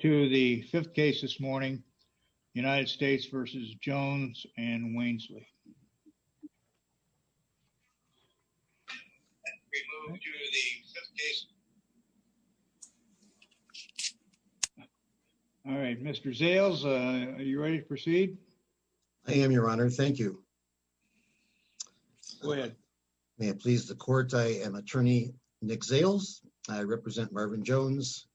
to the fifth case this morning. United States v. Jones and Wainsley. All right, Mr. Zales, are you ready to proceed? I am, your honor. Thank you. Go ahead. May it please the court, I am attorney Nick Zales. I represent Marvin Jones,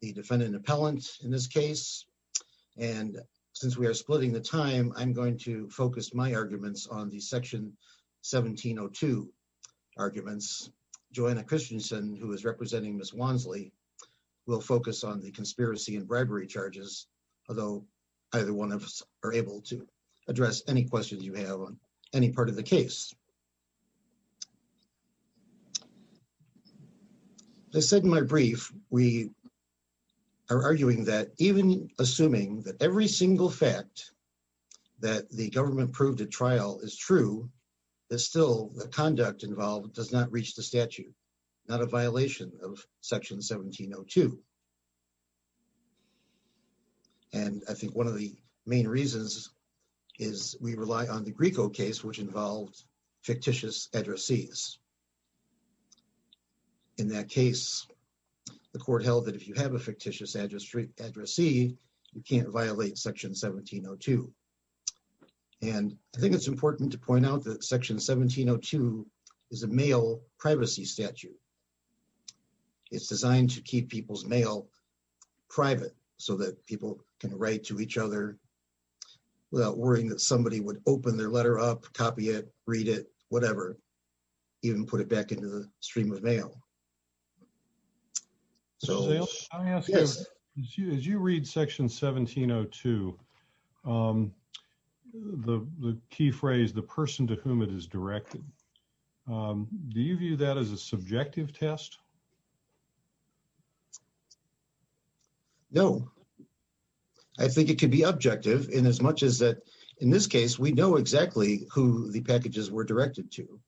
the defendant appellant in this case, and since we are splitting the time, I'm going to focus my arguments on the section 1702 arguments. Joanna Christensen, who is representing Ms. Wainsley, will focus on the conspiracy and bribery charges, although either one of us are able to address any questions you have on any part of the case. As I said in my brief, we are arguing that even assuming that every single fact that the government proved at trial is true, that still the conduct involved does not reach the statute, not a violation of section 1702. And I think one of the main reasons is we rely on the Grieco case, which involved fictitious addressees. In that case, the court held that if you have a fictitious addressee, you can't violate section 1702. And I think it's important to point out that section 1702 is a mail privacy statute. It's designed to keep people's mail private so that people can write to each other without worrying that somebody would open their letter up, copy it, read it, whatever, even put it back into the stream of mail. So as you read section 1702, the key phrase, the person to whom it is directed, do you view that as a subjective test? No. I think it could be objective in as much as that, in this case, we know exactly who the packages were directed to.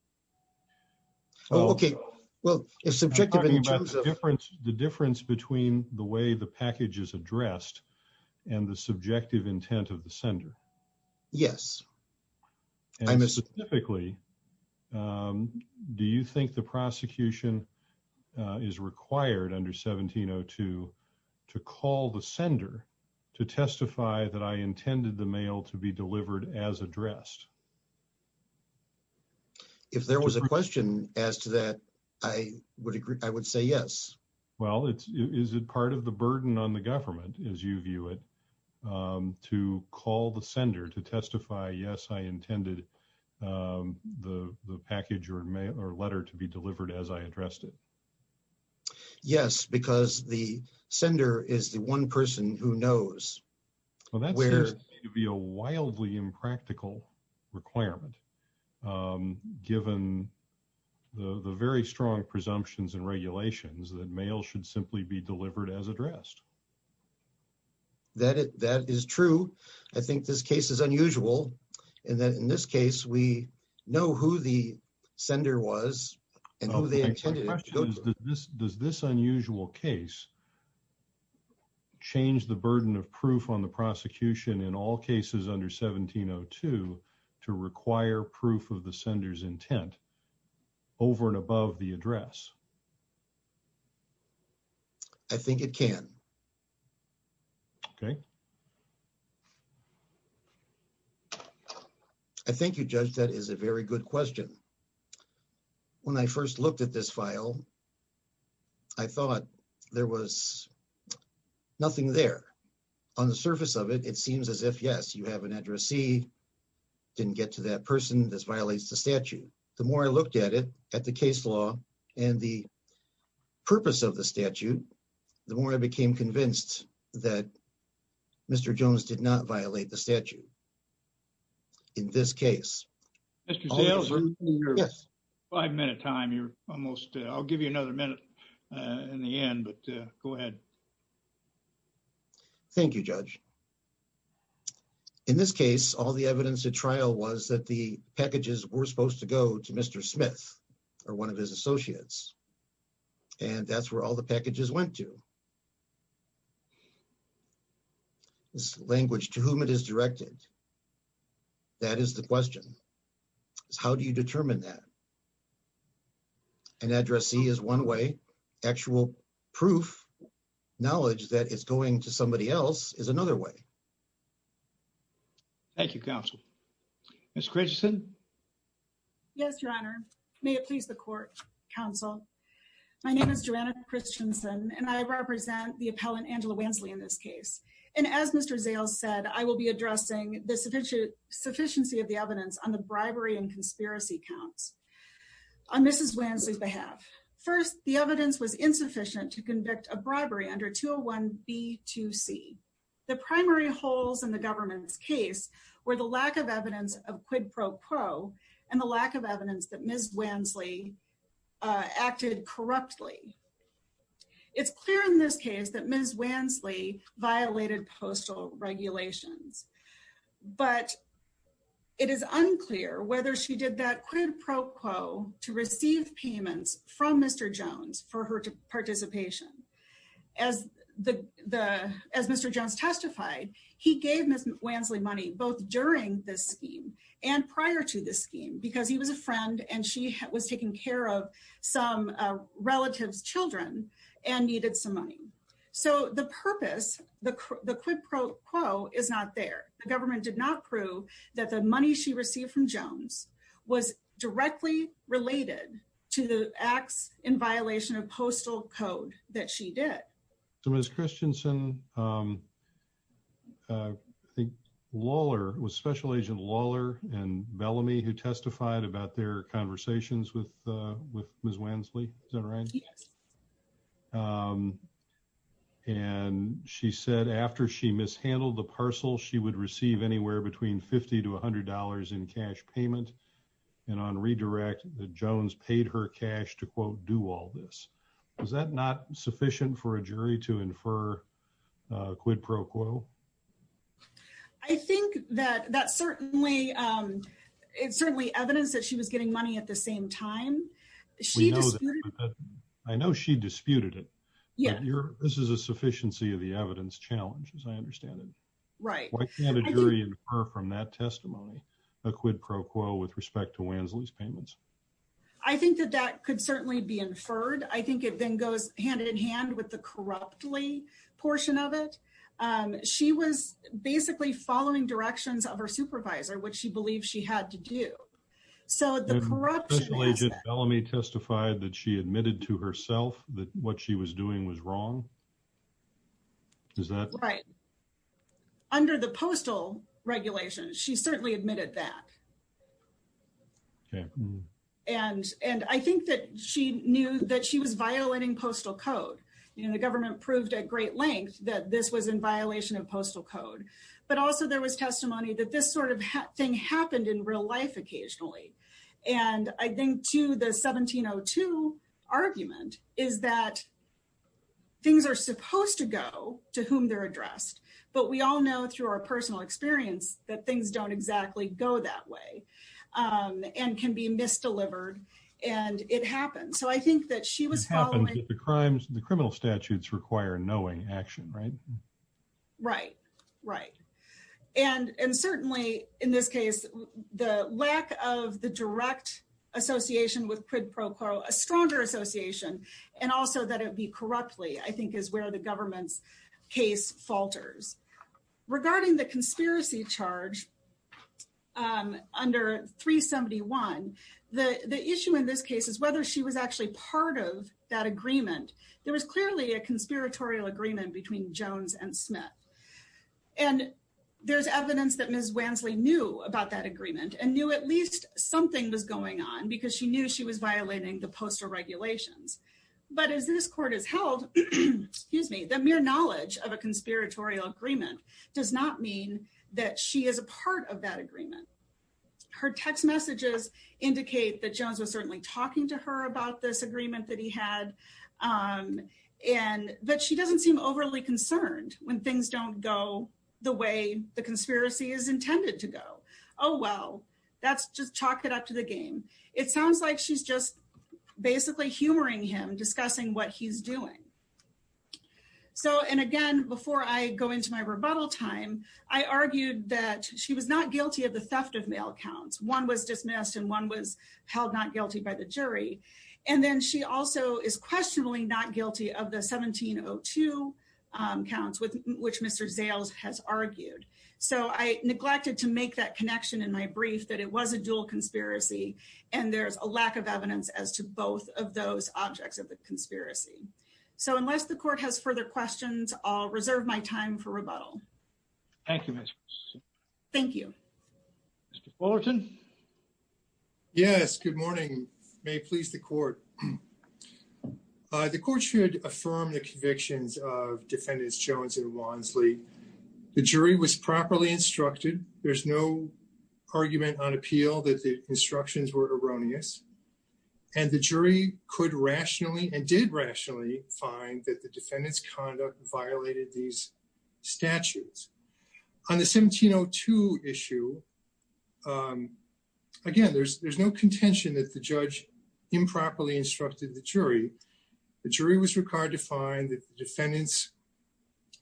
Oh, okay. Well, it's subjective. I'm talking about the difference between the way the package is addressed and the subjective intent of the sender. Yes. And specifically, do you think the prosecution is required under 1702 to call the sender to testify that I intended the mail to be delivered as addressed? If there was a question as to that, I would agree. I would say yes. Well, is it part of the burden on the government, as you view it, to call the sender to testify, yes, I intended the package or letter to be delivered as I addressed it? Yes, because the sender is the one person who knows. Well, that seems to me to be a wildly impractical requirement, given the very strong presumptions and regulations that mail should simply be delivered as addressed. That is true. I think this case is unusual, and that in this case, we know who the sender was and who they intended it to go to. Does this unusual case change the burden of proof on the prosecution in all cases under 1702 to require proof of the sender's intent over and above the address? I think it can. Okay. I think you judged that as a very good question. When I first looked at this file, I thought there was nothing there. On the surface of it, it seems as if, yes, you have an addressee, didn't get to that person, this violates the statute. The more I looked at it, at the case law and the purpose of the statute, the more I became convinced that Mr. Jones did not violate the statute in this case. Mr. Zales, you're five-minute time. I'll give you another minute in the end, but go ahead. Thank you, Judge. In this case, all the evidence at trial was that the packages were supposed to go to Mr. Smith or one of his associates, and that's where all the packages went to. This language to whom it is directed, that is the question. How do you determine that? An addressee is one way. Actual proof, knowledge that it's going to somebody else is another way. Thank you, counsel. Ms. Christensen. Yes, Your Honor. May it please the court, counsel. My name is Joanna Christensen, and I represent the appellant, Angela Wansley, in this case. As Mr. Zales said, I will be addressing the sufficiency of the evidence on the bribery and conspiracy counts. On Mrs. Wansley's behalf, first, the evidence was insufficient to convict a bribery under 201B2C. The primary holes in the government's case were the lack of evidence of quid pro quo and the lack of evidence that Ms. Wansley acted corruptly. It's clear in this case that Ms. Wansley violated postal regulations, but it is unclear whether she did that quid pro quo to receive payments from Mr. Jones for her participation. As Mr. Jones testified, he gave Ms. Wansley money both during this scheme and prior to this scheme because he was a friend and she was taking care of some relative's children and needed some money. So the purpose, the quid pro quo, is not there. The government did not prove that the money she received from Jones was directly related to the acts in violation of postal code that she did. So Ms. Christensen, I think Lawler, it was Special Agent Lawler and Bellamy who testified about their conversations with Ms. Wansley, is that right? Yes. And she said after she mishandled the parcel, she would receive anywhere between $50 to $100 in cash payment. And on redirect, that Jones paid her cash to, quote, do all this. Was that not sufficient for a jury to infer quid pro quo? I think that certainly, it's certainly evidence that she was getting money at the same time. I know she disputed it. Yeah. This is a sufficiency of the evidence challenge, as I understand it. Right. Why can't a jury infer from that testimony a quid pro quo with respect to Wansley's payments? I think that that could certainly be inferred. It then goes hand-in-hand with the corruptly portion of it. She was basically following directions of her supervisor, which she believed she had to do. So the corruption aspect- Did Special Agent Bellamy testify that she admitted to herself that what she was doing was wrong? Is that- Right. Under the postal regulations, she certainly admitted that. Okay. And I think that she knew that she was violating postal code. The government proved at great length that this was in violation of postal code. But also, there was testimony that this sort of thing happened in real life occasionally. And I think, too, the 1702 argument is that things are supposed to go to whom they're addressed. But we all know through our personal experience that things don't exactly go that way and can be misdelivered. And it happened. So I think that she was following- The crimes, the criminal statutes require knowing action, right? Right. Right. And certainly, in this case, the lack of the direct association with quid pro quo, a stronger association, and also that it be corruptly, I think is where the government's case falters. Regarding the conspiracy charge under 371, the issue in this case is whether she was actually part of that agreement. There was clearly a conspiratorial agreement between Jones and Smith. And there's evidence that Ms. Wansley knew about that agreement and knew at least something was going on because she knew she was violating the postal regulations. But as this court has held, the mere knowledge of a conspiratorial agreement does not mean that she is a part of that agreement. Her text messages indicate that Jones was certainly talking to her about this agreement that he had, and that she doesn't seem overly concerned when things don't go the way the conspiracy is intended to go. Oh, well, that's just chalk it up to the game. It sounds like she's just basically humoring him, discussing what he's doing. So, and again, before I go into my rebuttal time, I argued that she was not guilty of the theft of mail counts. One was dismissed, and one was held not guilty by the jury. And then she also is questionably not guilty of the 1702 counts, which Mr. Zales has argued. So I neglected to make that connection in my brief that it was a dual conspiracy, and there's a lack of evidence as to both of those objects of the conspiracy. So unless the court has further questions, I'll reserve my time for rebuttal. Thank you, Ms. Wilson. Thank you. Mr. Fullerton. Yes, good morning. May it please the court. The court should affirm the convictions of Defendants Jones and Wansley. The jury was properly instructed. There's no argument on appeal that the instructions were erroneous, and the jury could rationally and did rationally find that the defendant's conduct violated these statutes. On the 1702 issue, again, there's no contention that the judge improperly instructed the jury. The jury was required to find that the defendants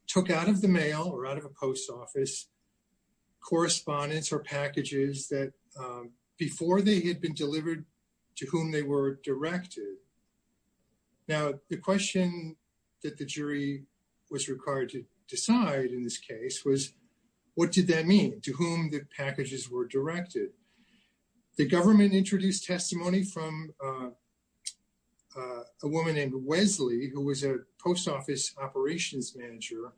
took out of the mail or out of a post office correspondence or packages that before they had been delivered to whom they were directed. Now, the question that the jury was required to decide in this case was, what did that mean, to whom the packages were directed? The government introduced testimony from a woman named Wesley, who was a post office operations manager,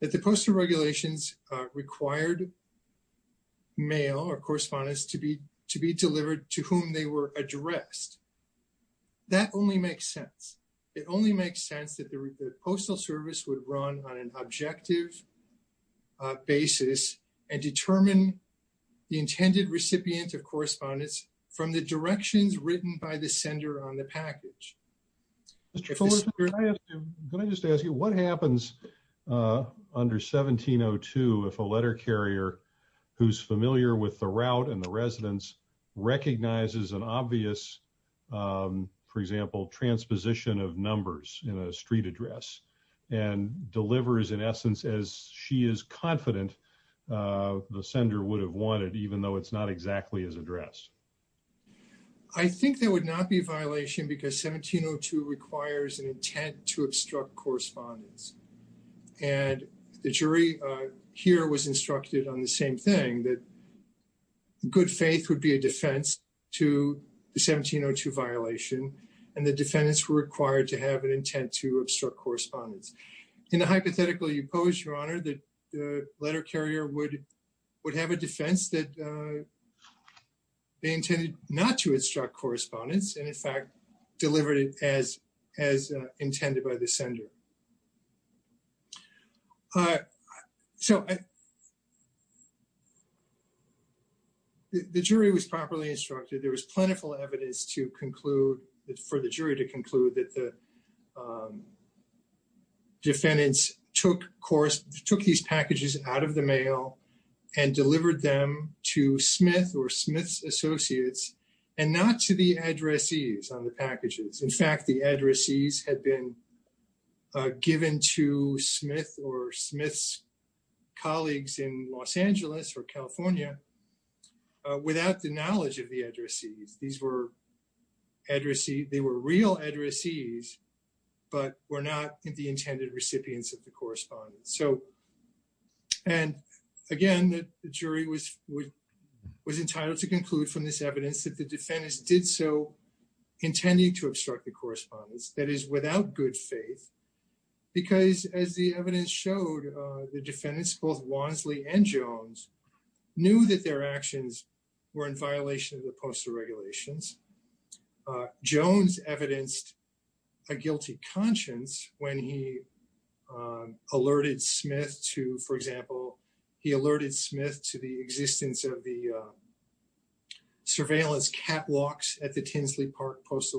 that the postal regulations required mail or correspondence to be delivered to whom they were addressed. That only makes sense. It only makes sense that the postal service would run on an objective a basis and determine the intended recipient of correspondence from the directions written by the sender on the package. Can I just ask you, what happens under 1702 if a letter carrier who's familiar with the route and the residence recognizes an obvious, for example, transposition of numbers in a street address and delivers, in essence, as she is confident the sender would have wanted, even though it's not exactly as addressed? I think there would not be a violation because 1702 requires an intent to obstruct correspondence. And the jury here was instructed on the same thing, that good faith would be a defense to the 1702 violation and the defendants were required to have an intent to obstruct correspondence. In the hypothetical you pose, your honor, the letter carrier would have a defense that they intended not to obstruct correspondence and, in fact, delivered it as intended by the sender. So, the jury was properly instructed. There was plentiful evidence to conclude, for the jury to conclude, that the defendants took these packages out of the mail and delivered them to Smith or Smith's associates and not to the addressees on the packages. In fact, the addressees had been given to Smith or Smith's colleagues in Los Angeles or California without the knowledge of the addressees. These were real addressees, but were not the intended recipients of the correspondence. And, again, the jury was entitled to conclude from this evidence that the defendants did so intended to obstruct the correspondence, that is, without good faith, because, as the evidence showed, the defendants, both Wansley and Jones, knew that their actions were in violation of the postal regulations. Jones evidenced a guilty conscience when he alerted Smith to, for example, he alerted Smith to the existence of the surveillance catwalks at the Tinsley Park Post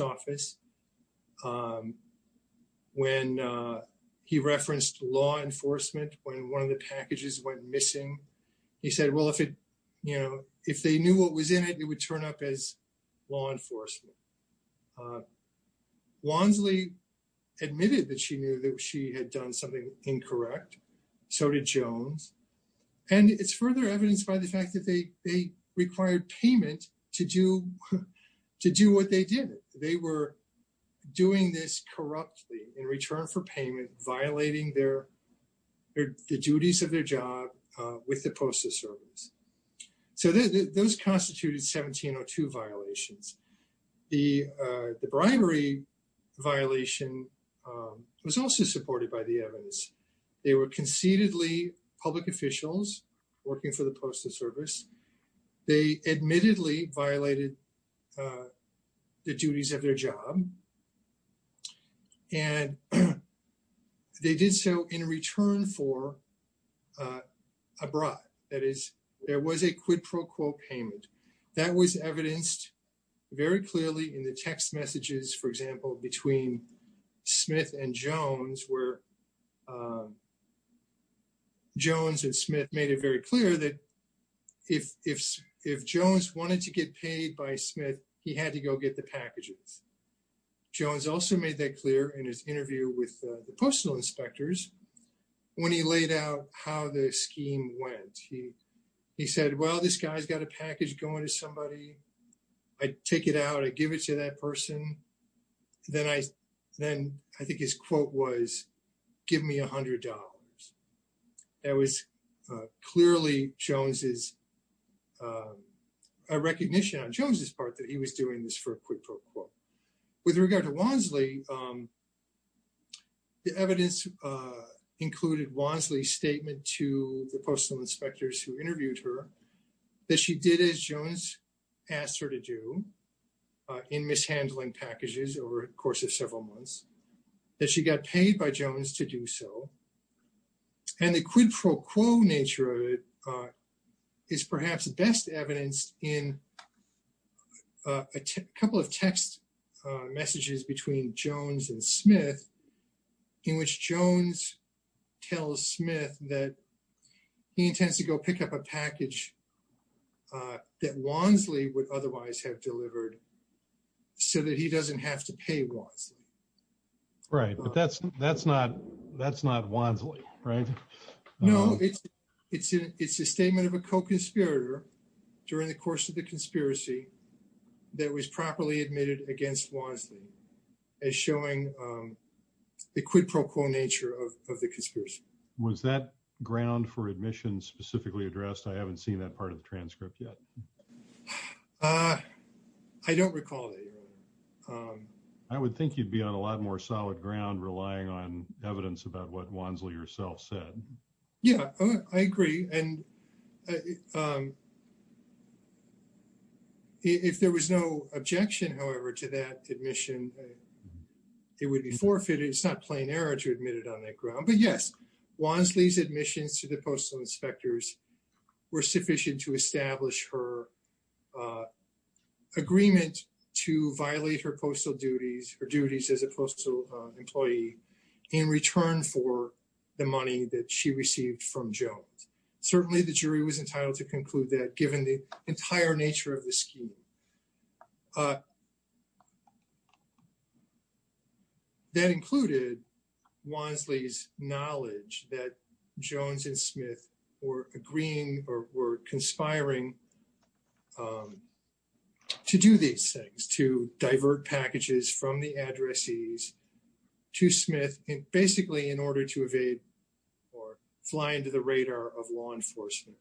Office. When he referenced law enforcement, when one of the packages went missing, he said, well, if it, you know, if they knew what was in it, it would turn up as law enforcement. Wansley admitted that she knew that she had done something incorrect. So did Jones. And it's further evidenced by the fact that they required payment to do what they did. They were doing this corruptly in return for payment, violating their duties of their job with the Postal Service. So those constituted 1702 violations. The bribery violation was also supported by the evidence. They were concededly public officials working for the Postal Service. They admittedly violated the duties of their job. And they did so in return for abroad. That is, there was a quid pro quo payment. That was evidenced very clearly in the text messages, for example, between Smith and Jones, where Jones and Smith made it very clear that if Jones wanted to get paid by Smith, he had to go get the packages. Jones also made that clear in his interview with the postal inspectors when he laid out how the scheme went. He said, well, this guy's got a package going to somebody. I take it out. I give it to that person. Then I think his quote was, give me $100. That was clearly a recognition on Jones's part that he was doing this for a quid pro quo. With regard to Wansley, the evidence included Wansley's statement to the postal inspectors who interviewed her that she did as Jones asked her to do in mishandling packages over the course of several months, that she got paid by Jones to do so. And the quid pro quo nature of it is perhaps best evidenced in a couple of text messages between Jones and Smith, in which Jones tells Smith that he intends to go pick up a package that Wansley would otherwise have delivered so that he doesn't have to pay Wansley. Right, but that's not Wansley, right? No, it's a statement of a co-conspirator during the course of the conspiracy that was properly admitted against Wansley. As showing the quid pro quo nature of the conspiracy. Was that ground for admission specifically addressed? I haven't seen that part of the transcript yet. I don't recall that. I would think you'd be on a lot more solid ground relying on evidence about what Wansley herself said. Yeah, I agree. And if there was no objection, however, to that admission, it would be forfeited. It's not plain error to admit it on that ground. But yes, Wansley's admissions to the postal inspectors were sufficient to establish her agreement to violate her postal duties, her duties as a postal employee, in return for the money that she received from Jones. Certainly, the jury was entitled to conclude that given the entire nature of the scheme. That included Wansley's knowledge that Jones and Smith were agreeing or conspiring to do these things, to divert packages from the addressees to Smith, basically in order to evade or fly into the radar of law enforcement.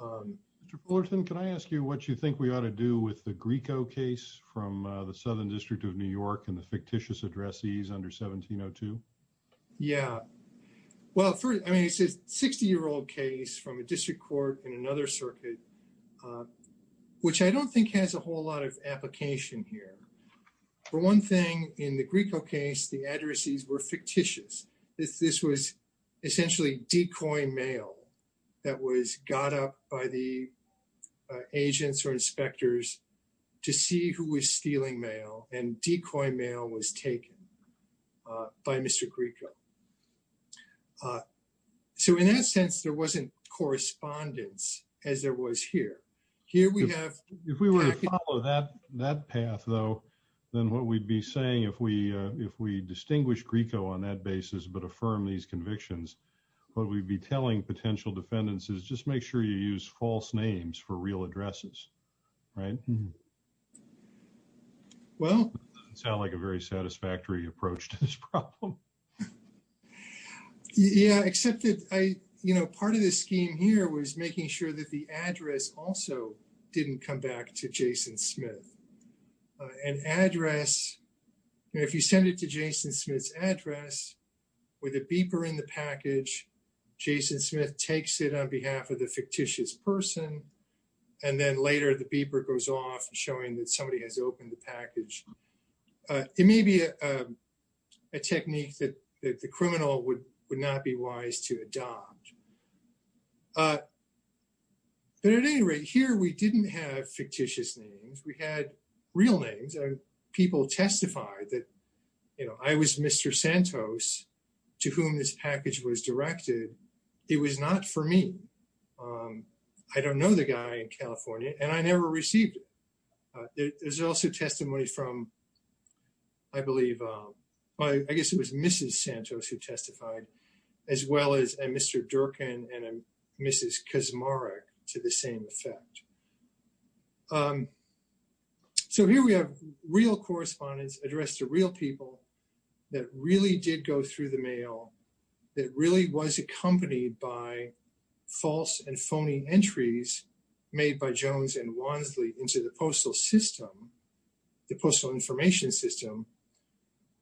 Mr. Fullerton, can I ask you what you think we ought to do with the Grieco case from the Southern District of New York and the fictitious addressees under 1702? Yeah. Well, first, I mean, it's a 60-year-old case from a district court in another circuit, which I don't think has a whole lot of application here. For one thing, in the Grieco case, the addressees were fictitious. This was essentially decoy mail that was got up by the agents or inspectors to see who was stealing mail, and decoy mail was taken by Mr. Grieco. So in that sense, there wasn't correspondence as there was here. Here we have- If we were to follow that path, though, then what we'd be saying if we distinguish Grieco on that basis but affirm these convictions, what we'd be telling potential defendants is just make sure you use false names for real addresses, right? Well- It doesn't sound like a very satisfactory approach to this problem. Yeah, except that part of the scheme here was making sure that the address also didn't come back to Jason Smith. An address, if you send it to Jason Smith's address with a beeper in the package, Jason Smith takes it on behalf of the fictitious person, and then later the beeper goes off showing that somebody has opened the package. It may be a technique that the criminal would not be wise to adopt. But at any rate, here we didn't have fictitious names. We had real names. People testified that, you know, I was Mr. Santos to whom this package was directed. It was not for me. I don't know the guy in California, and I never received it. There's also testimony from, I believe, I guess it was Mrs. Santos who testified, as well as a Mr. Durkin and a Mrs. Kaczmarek to the same effect. So here we have real correspondence addressed to real people that really did go through the mail, that really was accompanied by false and phony entries made by Jones and Wansley into the postal system, the postal information system,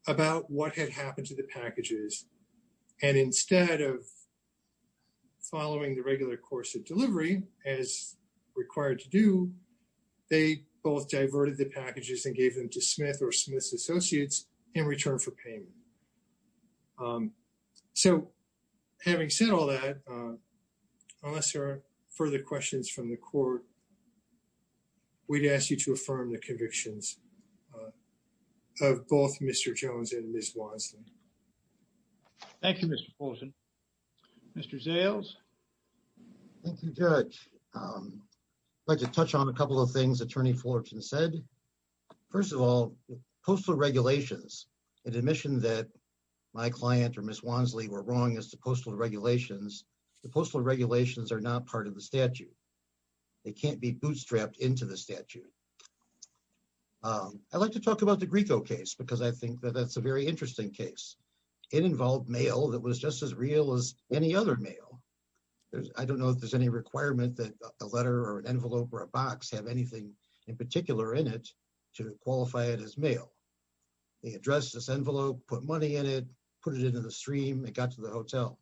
about what had happened to the packages. And instead of following the regular course of delivery as required to do, they both diverted the packages and gave them to Smith or Smith's Associates in return for payment. So having said all that, unless there are further questions from the court, we'd ask you to affirm the convictions of both Mr. Jones and Ms. Wansley. Thank you, Mr. Fulton. Mr. Zales? Thank you, Judge. I'd like to touch on a couple of things Attorney Fulton said. First of all, postal regulations. An admission that my client or Ms. Wansley were wrong as to postal regulations, the postal regulations are not part of the statute. They can't be bootstrapped into the statute. I'd like to talk about the Grieco case because I think that that's a very interesting case. It involved mail that was just as real as any other mail. I don't know if there's any requirement that a letter or an envelope or a box have anything in particular in it to qualify it as mail. They addressed this envelope, put money in it, put it into the stream, it got to the hotel.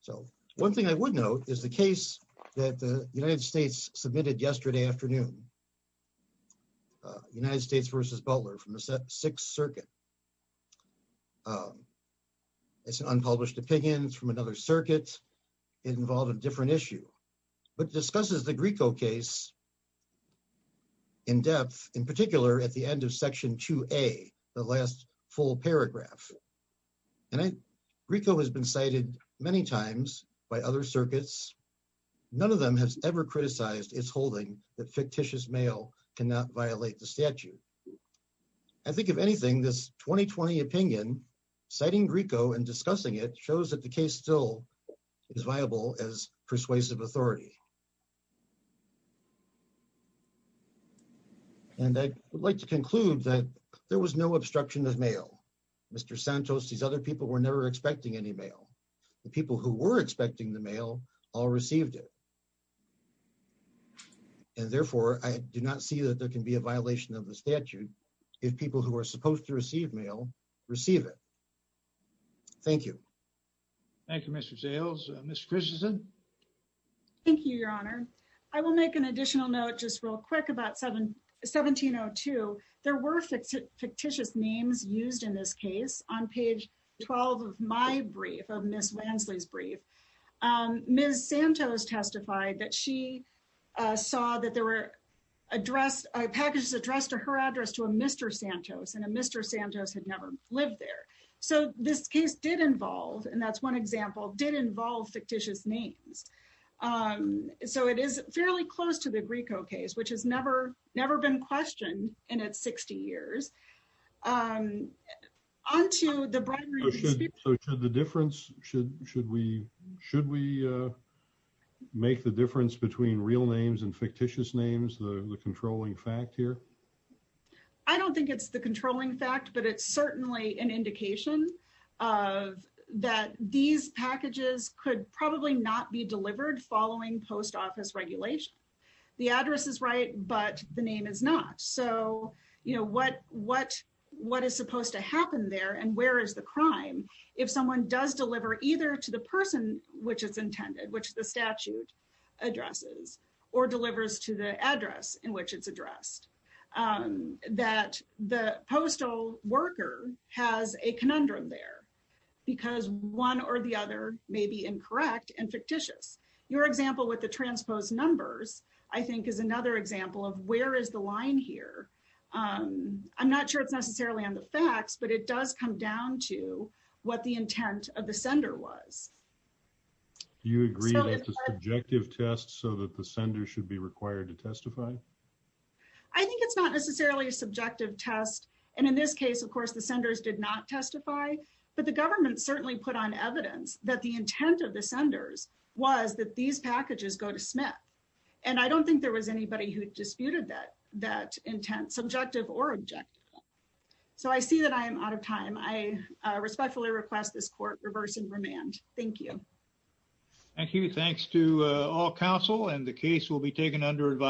So one thing I would note is the case that the United States submitted yesterday afternoon, United States v. Butler from the Sixth Circuit. It's an unpublished opinion, it's from another circuit. It involved a different issue, but discusses the Grieco case in depth, in particular at the end of Section 2A, the last full paragraph. Grieco has been cited many times by other circuits. None of them has ever criticized its holding that fictitious mail cannot violate the statute. I think, if anything, this 2020 opinion, citing Grieco and discussing it, shows that the case still is viable as persuasive authority. And I would like to conclude that there was no obstruction of mail. Mr. Santos, these other people were never expecting any mail. The people who were expecting the mail all received it. And therefore, I do not see that there can be a violation of the statute if people who are supposed to receive mail receive it. Thank you. Thank you, Mr. Zales. Ms. Christensen? Thank you, Your Honor. I will make an additional note just real quick about 1702. There were fictitious names used in this case. On page 12 of my brief, of Ms. Wansley's brief, Ms. Santos testified that she saw that there were addressed, packages addressed to her address to a Mr. Santos, and a Mr. Santos had never lived there. So this case did involve, and that's one example, did involve fictitious names. So it is fairly close to the Grieco case, which has never been questioned in its 60 years. On to the bribery dispute. So should the difference, should we make the difference between real names and fictitious names, the controlling fact here? I don't think it's the controlling fact, but it's certainly an indication of that these packages could probably not be delivered following post office regulation. The address is right, but the name is not. So what is supposed to happen there and where is the crime if someone does deliver either to the person which it's intended, which the statute addresses, or delivers to the address in which it's addressed? That the postal worker has a conundrum there because one or the other may be incorrect and fictitious. Your example with the transposed numbers, I think, is another example of where is the line here? I'm not sure it's necessarily on the facts, but it does come down to what the intent of the sender was. Do you agree that the subjective test so that the sender should be required to testify? I think it's not necessarily a subjective test. And in this case, of course, the senders did not testify, but the government certainly put on evidence that the intent of the senders was that these packages go to Smith. And I don't think there was anybody who disputed that intent, subjective or objective. So I see that I am out of time. I respectfully request this court reverse and remand. Thank you. Thank you. Thanks to all counsel and the case will be taken under advice.